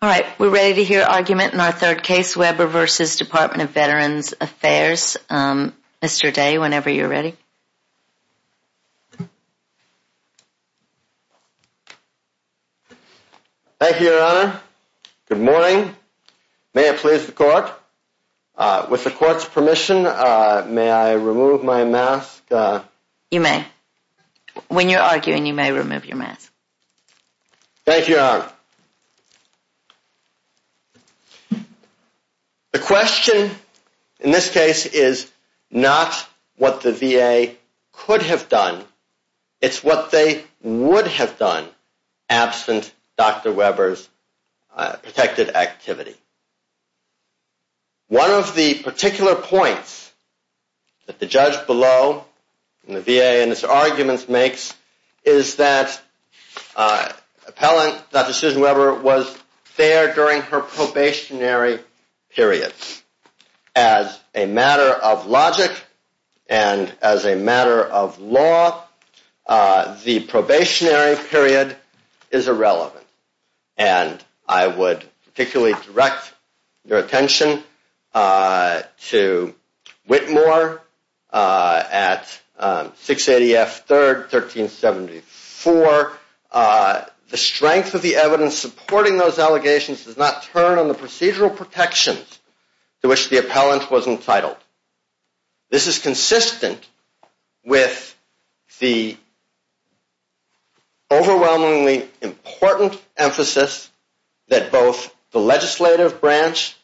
All right, we're ready to hear argument in our third case Weber vs. Department of Veterans Affairs Mr. Day whenever you're ready Thank You Good morning May it please the court With the court's permission. May I remove my mask? you may When you're arguing you may remove your mask Thank you The question in this case is not what the VA Could have done. It's what they would have done absent dr. Weber's protected activity One of the particular points that the judge below in the VA and its arguments makes is that Appellant that decision Weber was there during her probationary periods as a matter of logic and as a matter of law The probationary period is irrelevant and I would particularly direct your attention To Whitmore at 680 F 3rd 1374 The strength of the evidence supporting those allegations does not turn on the procedural protections to which the appellant was entitled this is consistent with the Overwhelmingly important emphasis that both the legislative branch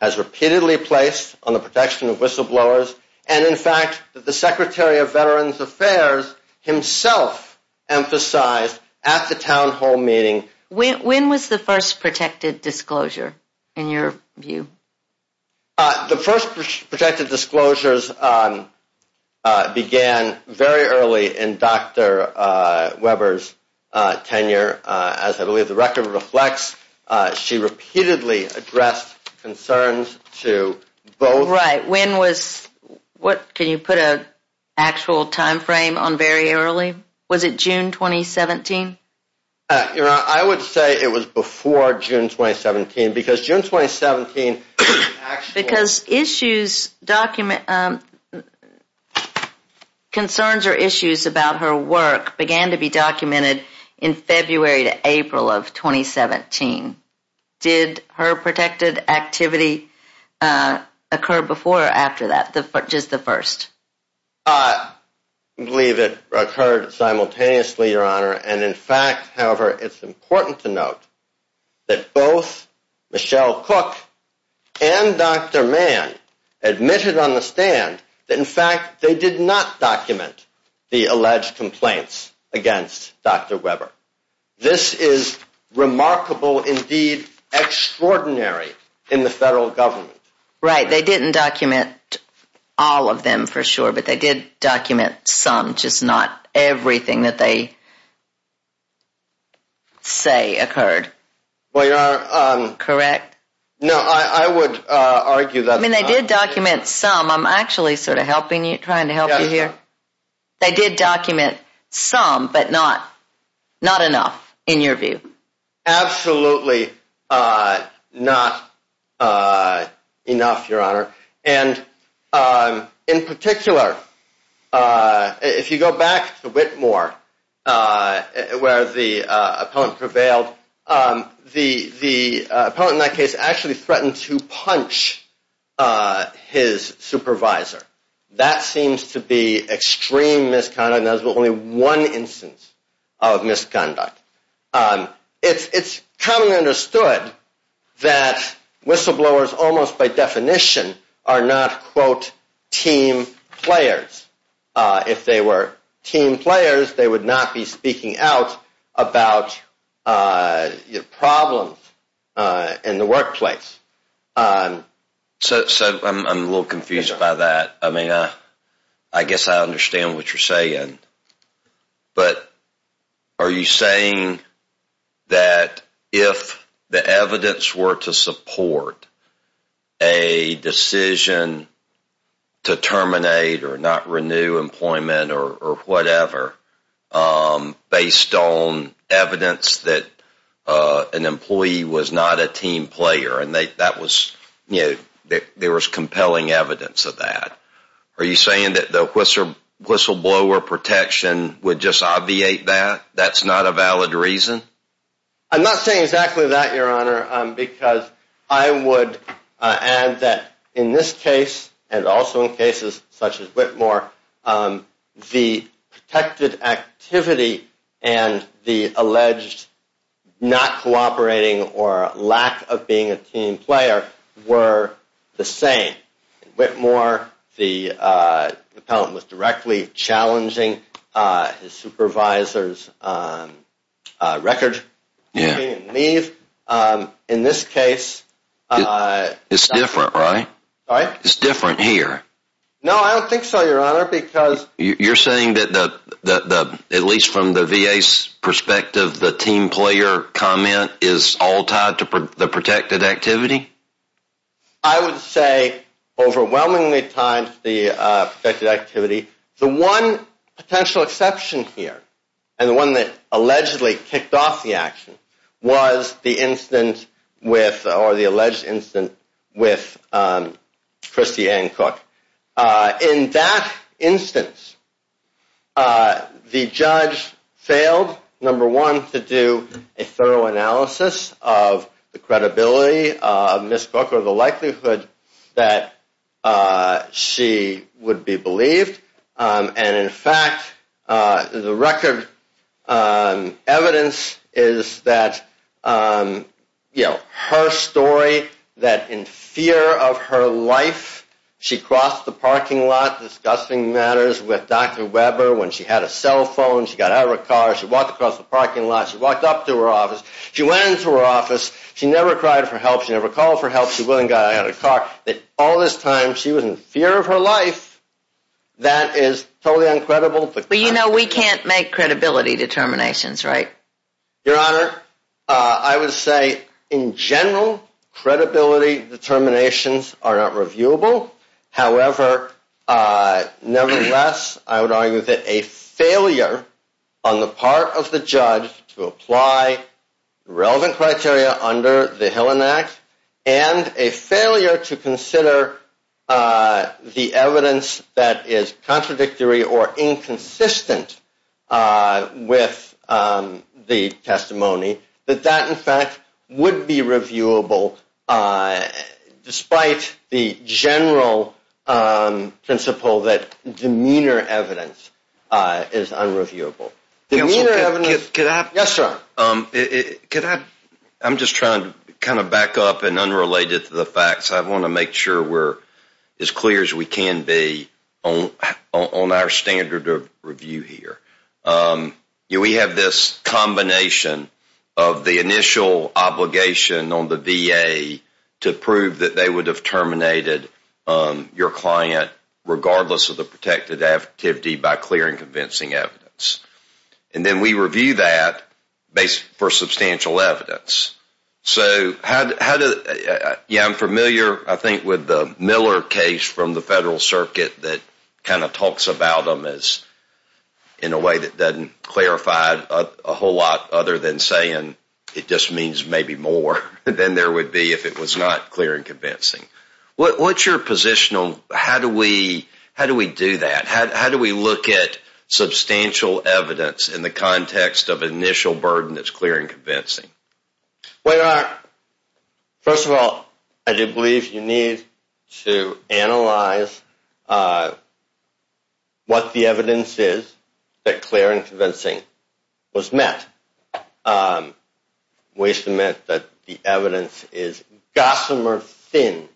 Has repeatedly placed on the protection of whistleblowers and in fact that the Secretary of Veterans Affairs Himself Emphasized at the town hall meeting. When was the first protected disclosure in your view? the first protected disclosures Began very early in dr. Weber's Tenure as I believe the record reflects She repeatedly addressed concerns to both right? When was What can you put a? Actual time frame on very early. Was it June 2017? You know, I would say it was before June 2017 because June 2017 because issues document Concerns or issues about her work began to be documented in February to April of 2017 did her protected activity Occur before after that the foot just the first Believe it occurred simultaneously your honor. And in fact, however, it's important to note that both Michelle Cook and Dr. Mann Admitted on the stand that in fact, they did not document the alleged complaints against. Dr. Weber this is remarkable indeed Extraordinary in the federal government, right? They didn't document All of them for sure, but they did document some just not everything that they Say occurred, well, you're correct. No, I would argue that I mean they did document some I'm actually sort of helping you trying to help you here They did document some but not Not enough in your view absolutely not Enough your honor and in particular If you go back to Whitmore Where the opponent prevailed the the opponent in that case actually threatened to punch His supervisor that seems to be extreme misconduct. There's only one instance of misconduct It's it's commonly understood That Whistleblowers almost by definition are not quote team players If they were team players, they would not be speaking out about your problems in the workplace So I'm a little confused by that I mean, uh, I guess I understand what you're saying but Are you saying? That if the evidence were to support a Decision to terminate or not renew employment or whatever based on evidence that An employee was not a team player and they that was you know, there was compelling evidence of that Are you saying that the whistleblower protection would just obviate that that's not a valid reason I'm not saying exactly that your honor because I would Add that in this case and also in cases such as Whitmore the protected activity and the alleged Not cooperating or lack of being a team player were the same Whitmore the Appellant was directly challenging his supervisors A record. Yeah leave in this case It's different, right? All right. It's different here No, I don't think so your honor because you're saying that the the at least from the VA's Perspective the team player comment is all tied to the protected activity. I would say overwhelmingly times the Activity the one Potential exception here and the one that allegedly kicked off the action was the incident with or the alleged incident with Christie and Cook in that instance The judge failed number one to do a thorough analysis of the credibility Miss Booker the likelihood that She would be believed and in fact the record Evidence is that You know her story that in fear of her life She crossed the parking lot discussing matters with dr. Webber when she had a cell phone. She got out of her car She walked across the parking lot. She walked up to her office. She went into her office She never cried for help. She never called for help That all this time she was in fear of her life That is totally uncredible, but you know, we can't make credibility determinations, right? Your honor, I would say in general credibility determinations are not reviewable, however Nevertheless, I would argue that a failure on the part of the judge to apply Relevant criteria under the Helen Act and a failure to consider the evidence that is contradictory or inconsistent with The testimony that that in fact would be reviewable Despite the general Principle that demeanor evidence is unreviewable Yes, sir Could I I'm just trying to kind of back up and unrelated to the facts I want to make sure we're as clear as we can be on on our standard of review here You we have this combination of the initial obligation on the VA To prove that they would have terminated Your client regardless of the protected activity by clearing convincing evidence And then we review that based for substantial evidence so how Yeah, I'm familiar. I think with the Miller case from the Federal Circuit that kind of talks about them as in a way that doesn't Clarified a whole lot other than saying it just means maybe more than there would be if it was not clear and convincing What's your position on how do we how do we do that? How do we look at? Substantial evidence in the context of initial burden that's clear and convincing wait First of all, I do believe you need to analyze What the evidence is that clear and convincing was met We submit that the evidence is Gossamer thin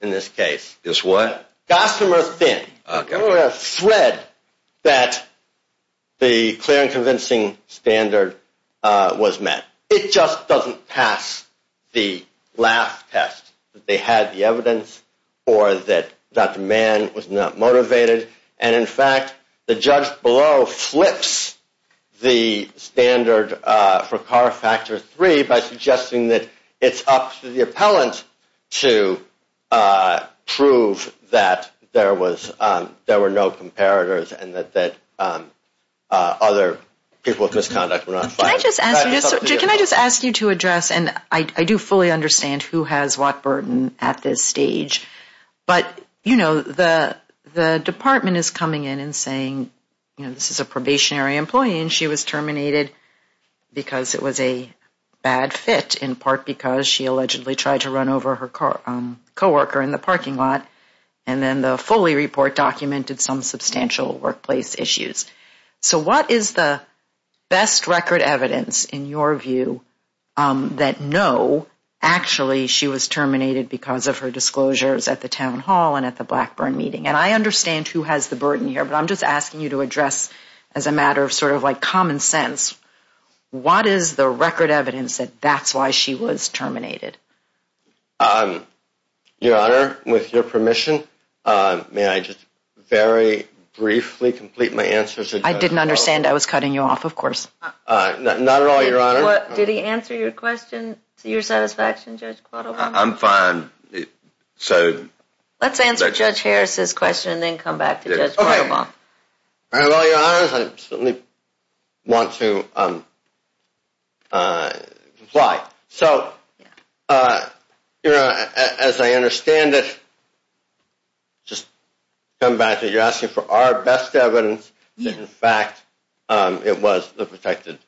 in this case is what got some earth thin Thread that the clear and convincing Standard was met it just doesn't pass the last test They had the evidence or that that man was not motivated. And in fact the judge below flips the standard for car factor 3 by suggesting that it's up to the appellant to Prove that there was there were no comparators and that that other people of misconduct Can I just ask you to address and I do fully understand who has what burden at this stage? But you know the the department is coming in and saying, you know, this is a probationary employee and she was terminated Because it was a bad fit in part because she allegedly tried to run over her car co-worker in the parking lot and then the Foley report documented some substantial workplace issues. So what is the best record evidence in your view that no Actually, she was terminated because of her disclosures at the town hall and at the Blackburn meeting and I understand who has the burden here But I'm just asking you to address as a matter of sort of like common sense What is the record evidence that that's why she was terminated? Um Your honor with your permission May I just very briefly complete my answers? I didn't understand. I was cutting you off. Of course Not at all. Your honor. What did he answer your question to your satisfaction judge? I'm fine So let's answer judge Harris's question and then come back to this. Okay mom Want to Apply so You know as I understand it Just come back to you asking for our best evidence. In fact, it was the protected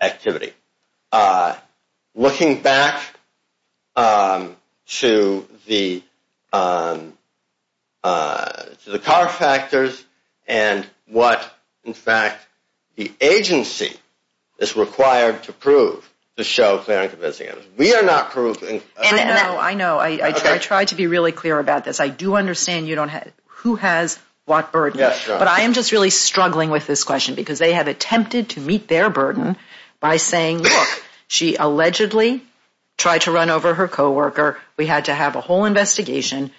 Activity Looking back To the To the car factors and what in fact the agency It's required to prove the show. We are not proving. I know I know I Tried to be really clear about this. I do understand. You don't have who has what bird? But I am just really struggling with this question because they have attempted to meet their burden by saying look she allegedly Tried to run over her co-worker. We had to have a whole investigation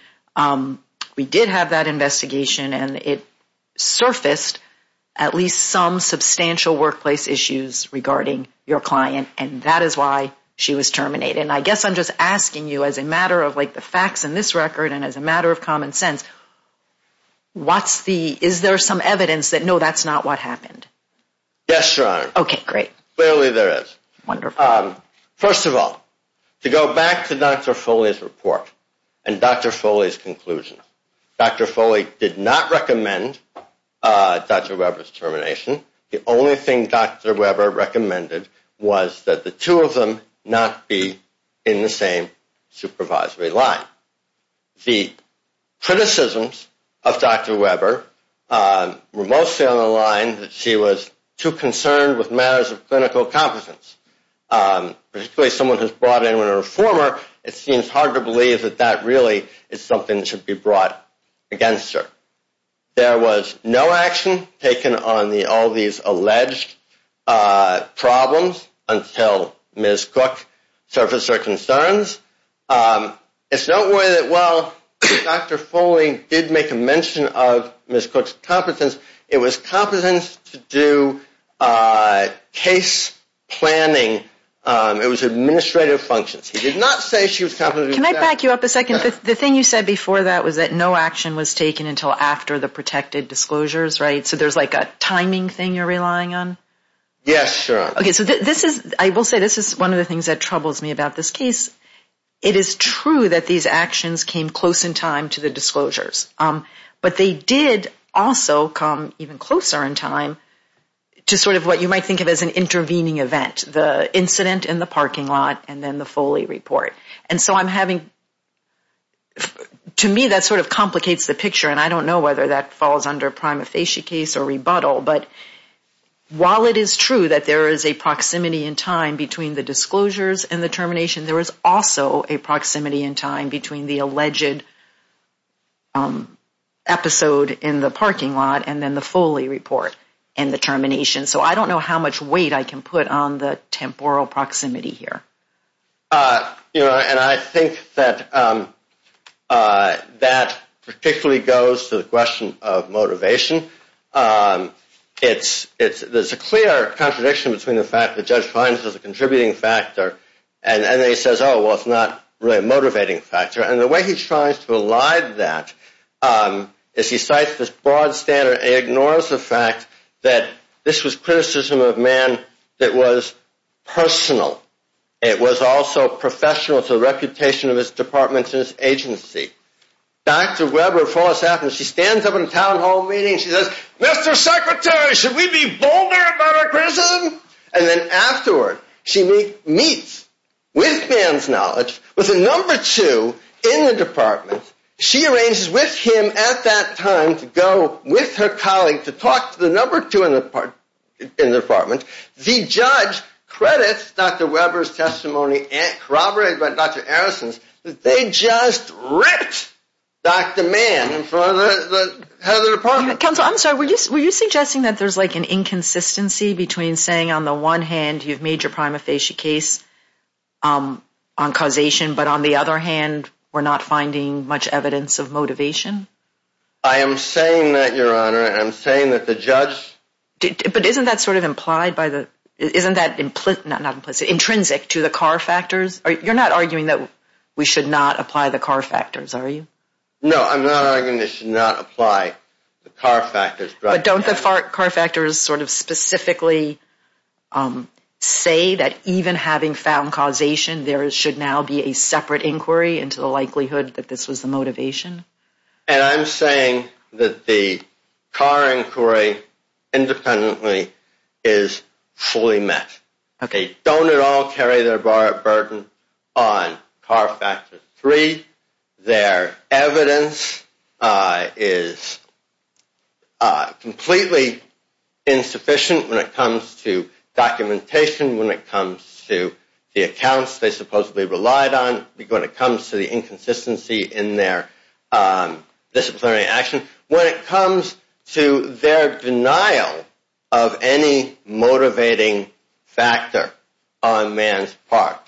We did have that investigation and it surfaced at least some Substantial workplace issues regarding your client and that is why she was terminated I guess I'm just asking you as a matter of like the facts in this record and as a matter of common sense What's the is there some evidence that no, that's not what happened? Yes, sir. Okay, great. Clearly there is wonderful First of all to go back to dr. Foley's report and dr. Foley's conclusion. Dr. Foley did not recommend Dr. Webber's termination. The only thing dr. Webber recommended was that the two of them not be in the same supervisory line the criticisms of dr. Webber Remotely on the line that she was too concerned with matters of clinical competence Particularly someone who's brought in when a reformer it seems hard to believe that that really is something that should be brought against her There was no action taken on the all these alleged Problems until Miss Cook surface or concerns It's no way that well Dr. Foley did make a mention of Miss Cook's competence. It was competence to do case planning It was administrative functions. He did not say she was coming The thing you said before that was that no action was taken until after the protected disclosures, right? So there's like a timing thing you're relying on Yes, sure. Okay. So this is I will say this is one of the things that troubles me about this case It is true that these actions came close in time to the disclosures But they did also come even closer in time to sort of what you might think of as an intervening event the Incident in the parking lot and then the Foley report and so I'm having To me that sort of complicates the picture and I don't know whether that falls under prima facie case or rebuttal but While it is true that there is a proximity in time between the disclosures and the termination There was also a proximity in time between the alleged Episode in the parking lot and then the Foley report and the termination So, I don't know how much weight I can put on the temporal proximity here you know, and I think that That particularly goes to the question of motivation It's it's there's a clear contradiction between the fact that judge finds as a contributing factor and then he says, oh Well, it's not really a motivating factor and the way he's trying to align that As he cites this broad standard ignores the fact that this was criticism of man that was Personal it was also professional to the reputation of his departments in his agency Dr. Webber falls after she stands up in a town hall meeting. She says mr. Secretary should we be bolder? And then afterward she meets With man's knowledge with a number two in the department She arranges with him at that time to go with her colleague to talk to the number two in the part In the apartment the judge credits. Dr. Webber's testimony and corroborated by dr. Harrison's they just ripped dr. Mann Council I'm sorry, were you suggesting that there's like an inconsistency between saying on the one hand you've made your prima facie case On causation, but on the other hand, we're not finding much evidence of motivation I am saying that your honor and I'm saying that the judge But isn't that sort of implied by the isn't that implicit not implicit intrinsic to the car factors? You're not arguing that we should not apply the car factors. Are you no, I'm not Apply the car factors, but don't the fart car factors sort of specifically Say that even having found causation there should now be a separate inquiry into the likelihood that this was the motivation And I'm saying that the car inquiry independently is Fully met. Okay, don't at all carry their bar at Burton on car factor 3 their evidence is Completely Insufficient when it comes to Documentation when it comes to the accounts they supposedly relied on when it comes to the inconsistency in their disciplinary action when it comes to their denial of any motivating Factor on man's part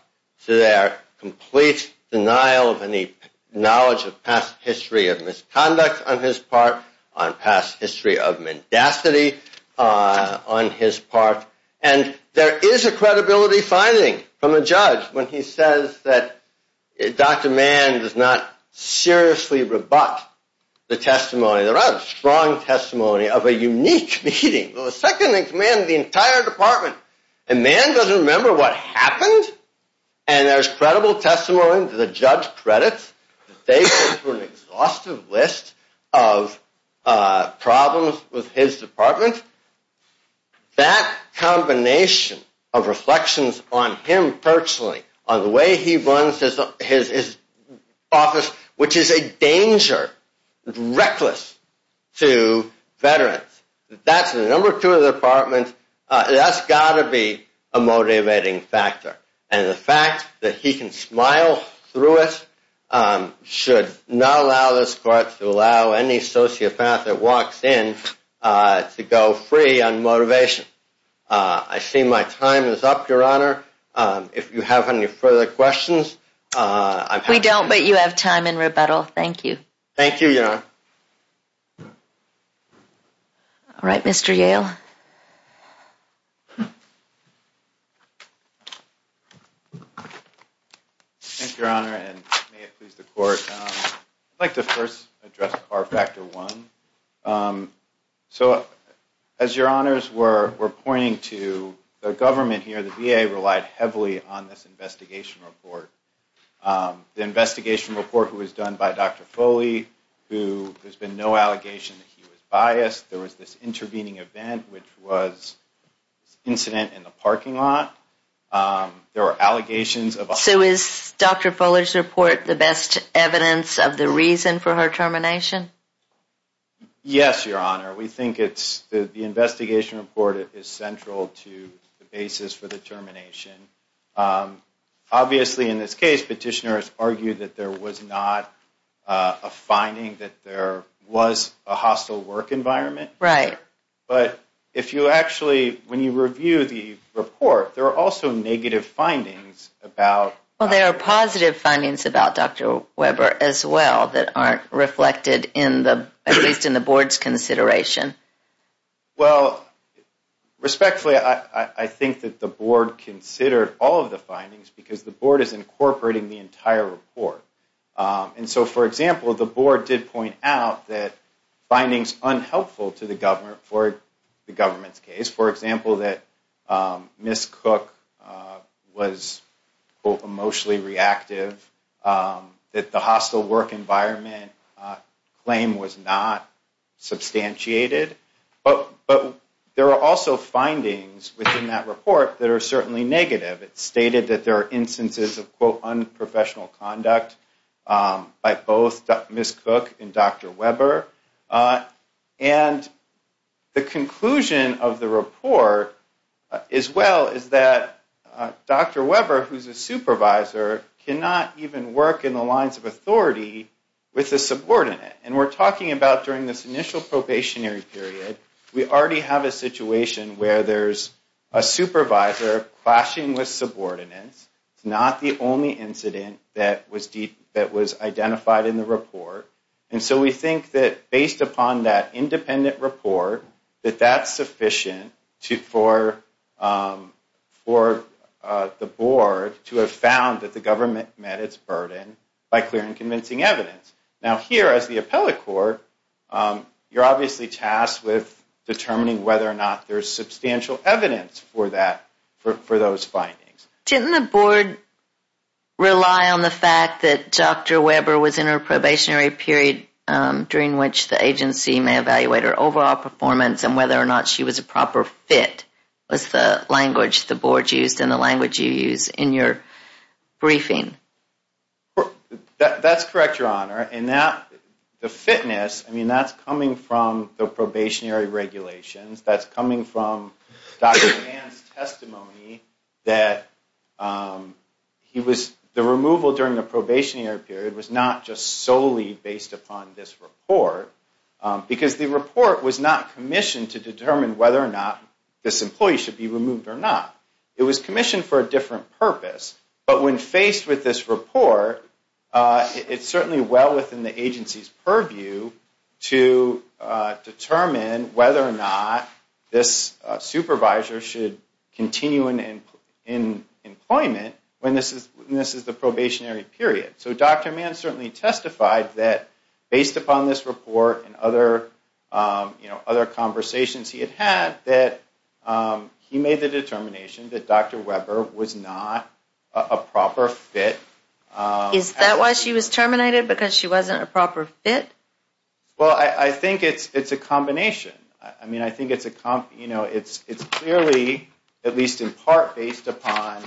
to their complete denial of any Knowledge of past history of misconduct on his part on past history of mendacity on his part and there is a credibility finding from a judge when he says that Dr. Mann does not Seriously rebut the testimony. There are strong testimony of a unique meeting well the second thing to man the entire department and man doesn't remember what happened and There's credible testimony to the judge credits. They were an exhaustive list of Problems with his department that Combination of reflections on him personally on the way he runs his his office, which is a danger reckless to Veterans that's the number two of the apartment That's gotta be a Motivating factor and the fact that he can smile through it Should not allow this court to allow any sociopath that walks in To go free on motivation. I see my time is up your honor if you have any further questions We don't but you have time in rebuttal. Thank you. Thank you. Yeah All right, mr. Yale I Think your honor and please the court like the first address our factor one So as your honors were we're pointing to the government here the VA relied heavily on this investigation report The investigation report who was done by dr. Foley who there's been no allegation that he was biased There was this intervening event, which was incident in the parking lot There were allegations of so is dr. Fuller's report the best evidence of the reason for her termination Yes, your honor. We think it's the investigation report. It is central to the basis for the termination Obviously in this case petitioners argued that there was not a Finding that there was a hostile work environment, right? But if you actually when you review the report, there are also negative findings about well There are positive findings about dr. Weber as well that aren't reflected in the at least in the board's consideration well Respectfully, I think that the board considered all of the findings because the board is incorporating the entire report And so for example the board did point out that findings unhelpful to the government for the government's case for example that miss cook was emotionally reactive That the hostile work environment Claim was not Substantiated but but there are also findings within that report that are certainly negative It's stated that there are instances of quote unprofessional conduct By both miss cook and dr. Weber and the conclusion of the report as well is that Dr. Weber who's a supervisor? Cannot even work in the lines of authority with the subordinate and we're talking about during this initial probationary period we already have a situation where there's a Identified in the report and so we think that based upon that independent report that that's sufficient to for for The board to have found that the government met its burden by clear and convincing evidence now here as the appellate court You're obviously tasked with Determining whether or not there's substantial evidence for that for those findings didn't the board Rely on the fact that dr. Weber was in her probationary period During which the agency may evaluate her overall performance and whether or not she was a proper fit Was the language the board used in the language you use in your? briefing That's correct your honor and now the fitness, I mean that's coming from the probationary regulations that's coming from Testimony that He was the removal during the probationary period was not just solely based upon this report Because the report was not commissioned to determine whether or not this employee should be removed or not It was commissioned for a different purpose, but when faced with this report it's certainly well within the agency's purview to Determine whether or not this supervisor should continue in Employment when this is this is the probationary period so dr. Mann certainly testified that based upon this report and other you know other conversations he had had that He made the determination that dr. Weber was not a proper fit Is that why she was terminated because she wasn't a proper fit? Well, I think it's it's a combination. I mean, I think it's a comp You know it's it's clearly at least in part based upon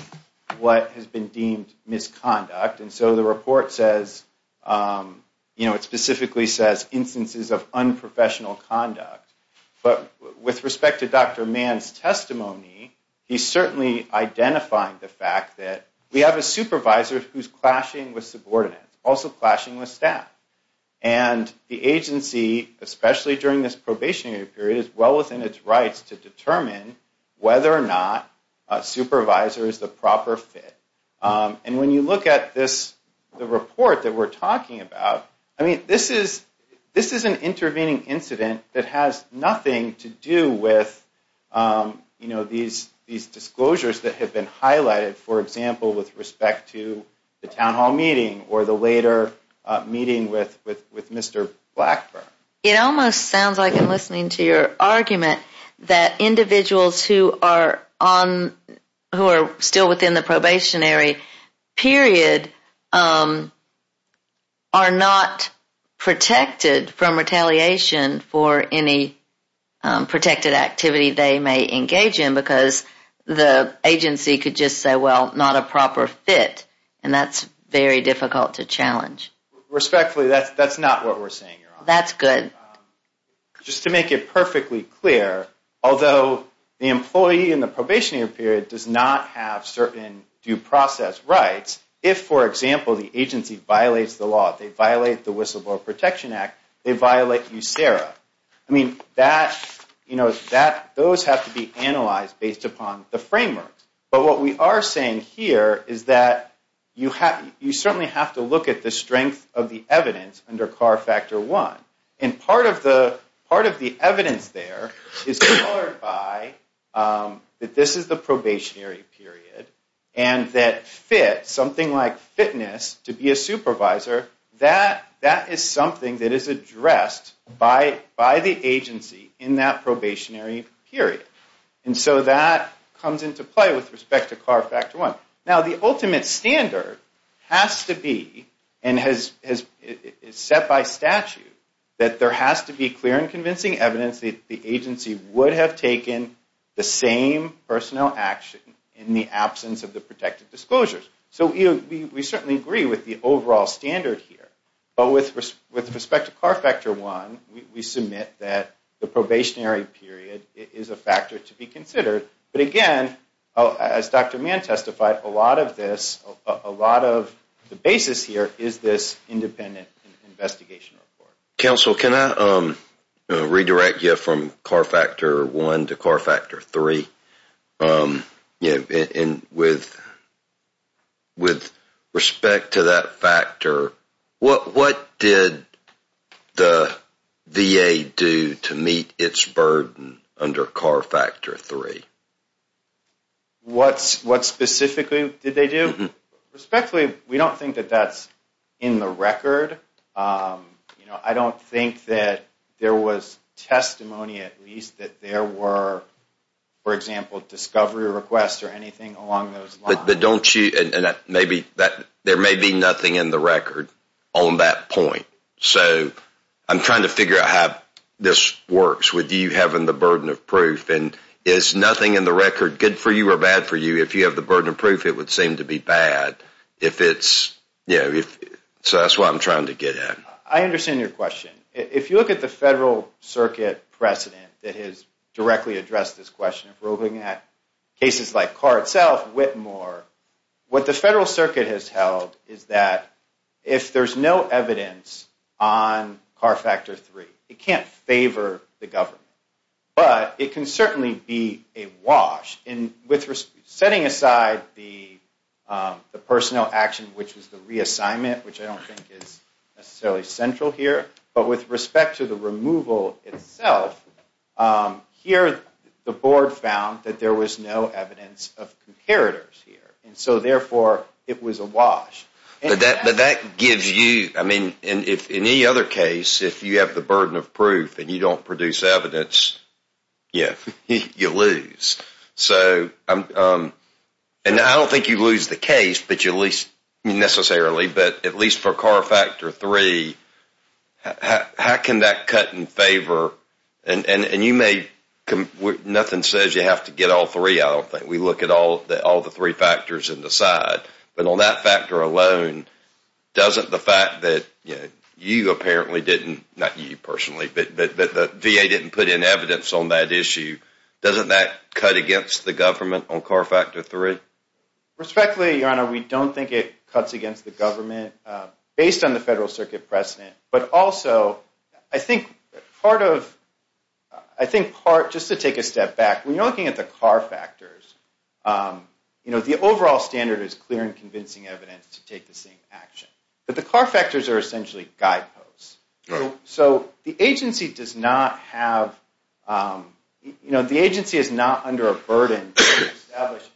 What has been deemed misconduct and so the report says? You know it specifically says instances of unprofessional conduct, but with respect to dr. Mann's testimony he certainly identified the fact that we have a supervisor who's clashing with subordinates also clashing with staff and The agency especially during this probationary period is well within its rights to determine whether or not Supervisor is the proper fit And when you look at this the report that we're talking about I mean this is this is an intervening Incident that has nothing to do with You know these these disclosures that have been highlighted for example with respect to the town hall meeting or the later Meeting with with with mr.. Blackburn. It almost sounds like I'm listening to your argument that individuals who are on Who are still within the probationary? period are not protected from retaliation for any protected activity they may engage in because The agency could just say well not a proper fit, and that's very difficult to challenge Respectfully that's that's not what we're saying. That's good Just to make it perfectly clear Although the employee in the probationary period does not have certain due process rights if for example the agency Violates the law they violate the whistleblower Protection Act they violate you Sarah I mean that you know that those have to be analyzed based upon the framework But what we are saying here Is that you have you certainly have to look at the strength of the evidence under car factor one and part of the part? of the evidence there is That this is the probationary period and that Fit something like fitness to be a supervisor that that is something that is addressed By by the agency in that probationary period and so that comes into play with respect to car factor one now the ultimate standard has to be and has Set by statute that there has to be clear and convincing evidence the agency would have taken the same Personnel action in the absence of the protected disclosures, so you we certainly agree with the overall standard here But with with respect to car factor one we submit that the probationary period is a factor to be considered But again as dr. Mann testified a lot of this a lot of the basis here is this independent investigation report counsel can I redirect you from car factor one to car factor three Yeah, and with With respect to that factor what what did The VA do to meet its burden under car factor three What's what specifically did they do respectfully we don't think that that's in the record You know I don't think that there was testimony at least that there were For example discovery requests or anything along those but don't you and that maybe that there may be nothing in the record on That point so I'm trying to figure out how this works Would you have in the burden of proof and is nothing in the record good for you or bad for you if you have the? Burden of proof it would seem to be bad if it's you know if so that's what I'm trying to get at I understand your question if you look at the Federal Circuit precedent that has directly addressed this question if we're looking at cases like car itself Whitmore What the Federal Circuit has held is that if there's no evidence on? car factor three it can't favor the government, but it can certainly be a wash in with setting aside the Personnel action, which is the reassignment, which I don't think is necessarily central here, but with respect to the removal itself Here the board found that there was no evidence of comparators here, and so therefore it was a wash But that but that gives you I mean in if any other case if you have the burden of proof And you don't produce evidence Yes, you lose So I'm and I don't think you lose the case, but you at least necessarily but at least for car factor three How can that cut in favor and and and you may come with nothing says you have to get all three? I don't think we look at all that all the three factors in the side, but on that factor alone Doesn't the fact that you know you apparently didn't not you personally, but the VA didn't put in evidence on that issue Doesn't that cut against the government on car factor three Respectfully your honor. We don't think it cuts against the government based on the Federal Circuit precedent, but also I think part of I Think part just to take a step back when you're looking at the car factors You know the overall standard is clear and convincing evidence to take the same action, but the car factors are essentially guideposts so the agency does not have You know the agency is not under a burden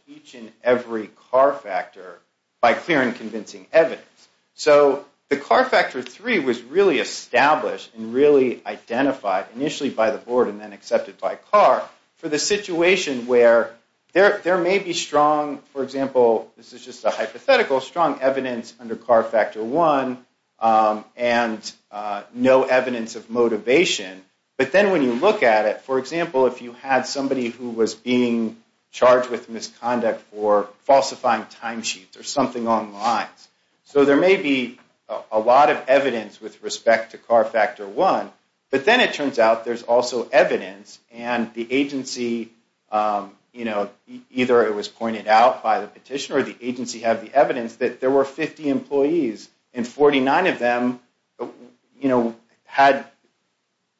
Each and every car factor by clear and convincing evidence So the car factor three was really established and really identified Initially by the board and then accepted by car for the situation where there there may be strong for example This is just a hypothetical strong evidence under car factor one and No evidence of motivation but then when you look at it for example if you had somebody who was being charged with misconduct or falsifying timesheets or something on lines So there may be a lot of evidence with respect to car factor one But then it turns out there's also evidence and the agency You know either it was pointed out by the petitioner the agency have the evidence that there were 50 employees and 49 of them You know had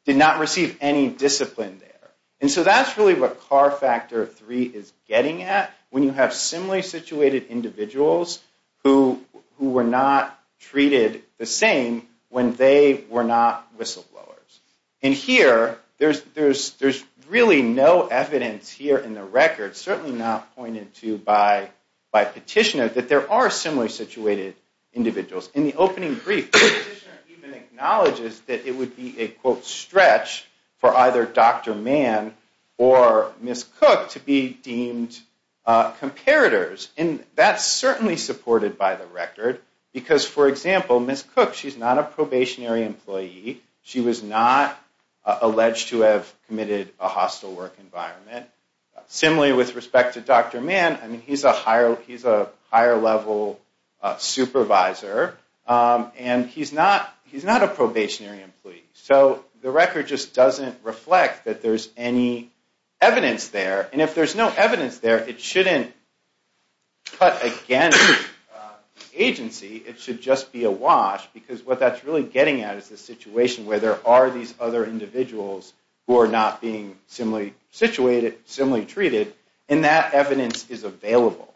Did not receive any discipline there And so that's really what car factor three is getting at when you have similarly situated individuals Who who were not treated the same when they were not whistleblowers and here? There's there's there's really no evidence here in the record certainly not pointed to by By petitioner that there are similarly situated Individuals in the opening brief Acknowledges that it would be a quote stretch for either dr. Mann or miss cook to be deemed Comparators and that's certainly supported by the record because for example miss cook. She's not a probationary employee She was not Alleged to have committed a hostile work environment Similarly with respect to dr. Mann, I mean he's a higher. He's a higher level supervisor And he's not he's not a probationary employee so the record just doesn't reflect that there's any Evidence there, and if there's no evidence there it shouldn't cut again Agency it should just be a wash because what that's really getting at is the situation where there are these other Individuals who are not being similarly situated similarly treated and that evidence is available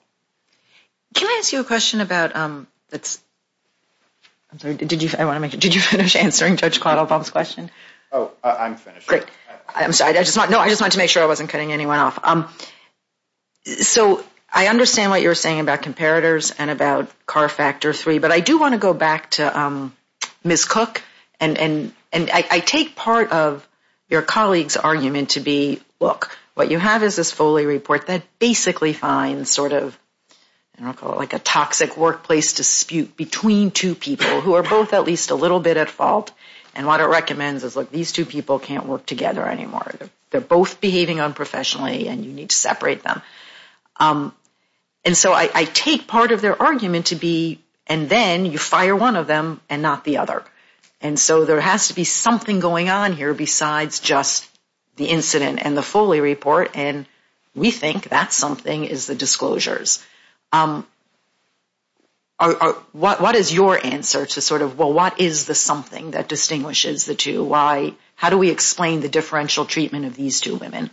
Can I ask you a question about um that's? I'm sorry, did you I want to make it did you finish answering judge caught up on this question? Oh? Great, I'm sorry. I just want to know I just want to make sure I wasn't cutting anyone off um So I understand what you're saying about comparators and about car factor three, but I do want to go back to Miss cook and and and I take part of your colleagues argument to be look what you have is this Foley report that basically finds sort of And I'll call it like a toxic workplace Dispute between two people who are both at least a little bit at fault and what it recommends is look these two people can't work Together anymore. They're both behaving unprofessionally, and you need to separate them And so I take part of their argument to be and then you fire one of them and not the other and So there has to be something going on here besides just the incident and the Foley report And we think that's something is the disclosures What what is your answer to sort of well? What is the something that distinguishes the two why how do we explain the differential treatment of these two women?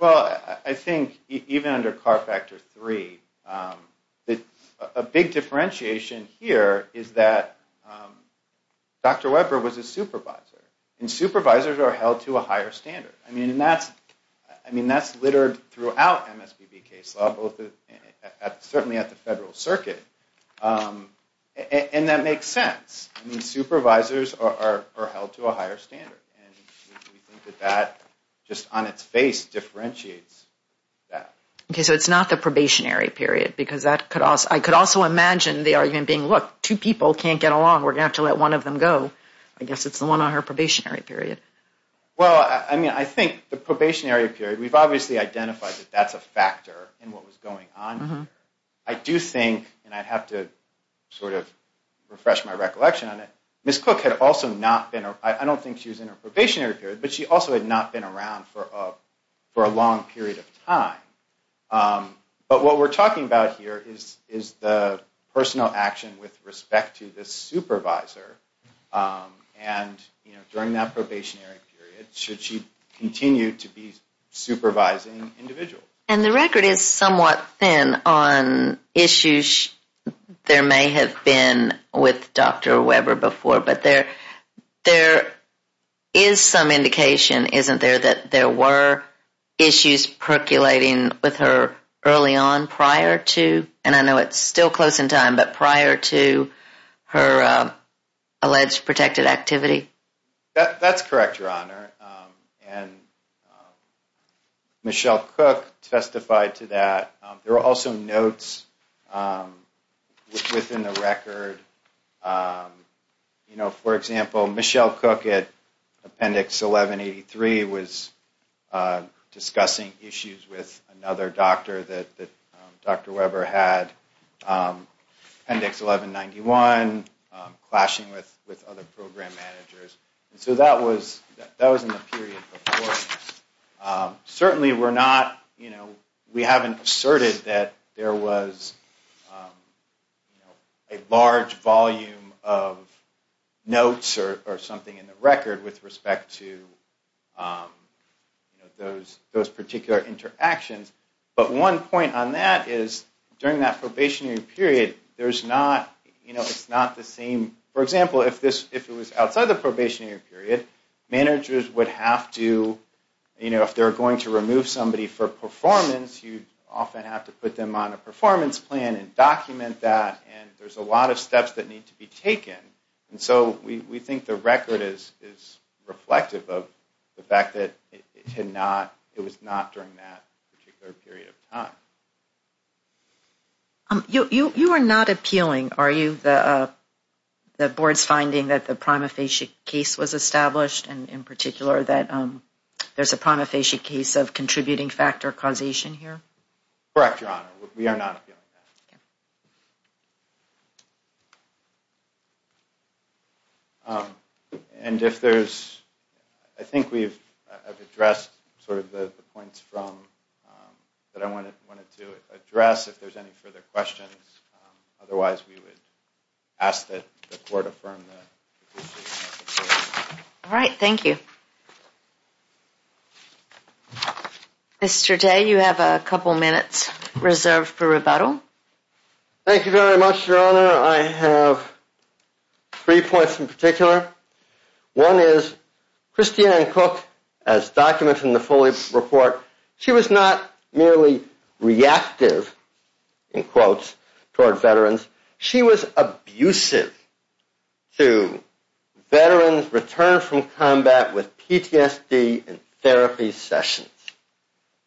Well, I think even under car factor three the a big differentiation here is that Dr.. Weber was a supervisor and supervisors are held to a higher standard I mean, and that's I mean that's littered throughout MSPB case law both at certainly at the federal circuit And that makes sense the supervisors are held to a higher standard That just on its face differentiates Okay, so it's not the probationary period because that could also I could also imagine the argument being look two people can't get along We're gonna have to let one of them go. I guess it's the one on her probationary period Well, I mean, I think the probationary period we've obviously identified that that's a factor in what was going on I do think and I'd have to sort of refresh my recollection on it miss cook had also not been I don't think she was in her probationary period, but she also had not been around for a for a long period of time But what we're talking about here is is the personal action with respect to this supervisor? and you know during that probationary period should she continue to be Supervising individual and the record is somewhat thin on issues There may have been with dr. Weber before but there there is Some indication isn't there that there were? issues percolating with her early on prior to and I know it's still close in time, but prior to her alleged protected activity that's correct your honor and Michelle cook testified to that there are also notes Within the record You know for example Michelle cook at appendix 1183 was Discussing issues with another doctor that that dr. Weber had Appendix 1191 clashing with with other program managers, so that was that was in the period Certainly, we're not you know we haven't asserted that there was a Large-volume of notes or something in the record with respect to Those those particular interactions, but one point on that is during that probationary period There's not you know it's not the same for example if this if it was outside the probationary period Managers would have to you know if they're going to remove somebody for performance You'd often have to put them on a performance plan and document that and there's a lot of steps that need to be taken and so we think the record is is Reflective of the fact that it had not it was not during that particular period of time You you are not appealing are you the the board's finding that the prima facie case was established and in particular that There's a prima facie case of contributing factor causation here And if there's I think we've addressed sort of the points from That I wanted wanted to address if there's any further questions Otherwise we would ask that the court affirm All right, thank you Mr. Day you have a couple minutes reserved for rebuttal. Thank you very much your honor. I have three points in particular one is Christian and cook as documents in the fully report she was not merely Reactive in quotes toward veterans. She was abusive to Veterans returned from combat with PTSD and therapy sessions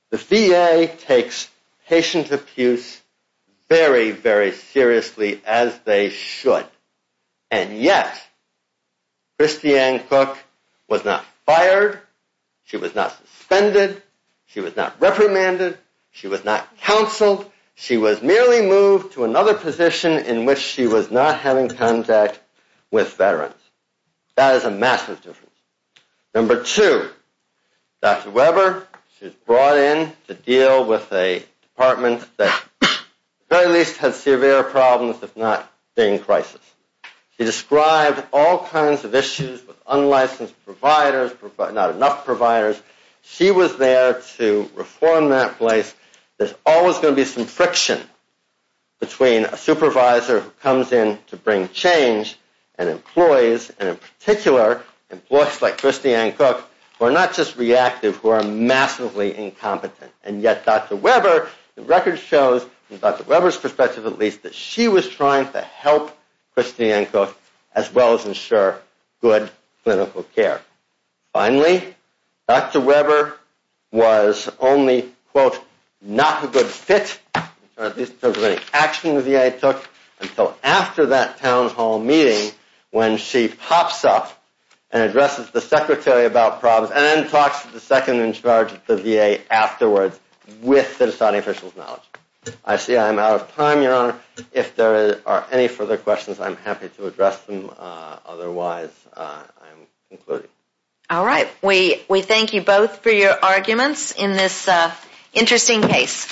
the VA takes patient abuse very very seriously as they should and yet Christian cook was not fired She was not suspended. She was not reprimanded. She was not counseled She was merely moved to another position in which she was not having contact with veterans That is a massive difference number two Dr. Weber she's brought in to deal with a department that Very least had severe problems. If not being crisis She described all kinds of issues with unlicensed providers, but not enough providers She was there to reform that place. There's always going to be some friction Between a supervisor who comes in to bring change and employees and in particular Employees like Christian cook or not just reactive who are massively incompetent and yet dr Weber the record shows in dr. Weber's perspective at least that she was trying to help Christian cook as well as ensure good clinical care Finally, dr. Weber Was only quote not a good fit At least over any action the VA took until after that town hall meeting when she pops up and Addresses the secretary about problems and then talks to the second in charge the VA afterwards with the deciding officials knowledge I see I'm out of time your honor if there are any further questions. I'm happy to address them. Otherwise All right, we we thank you both for your arguments in this Interesting case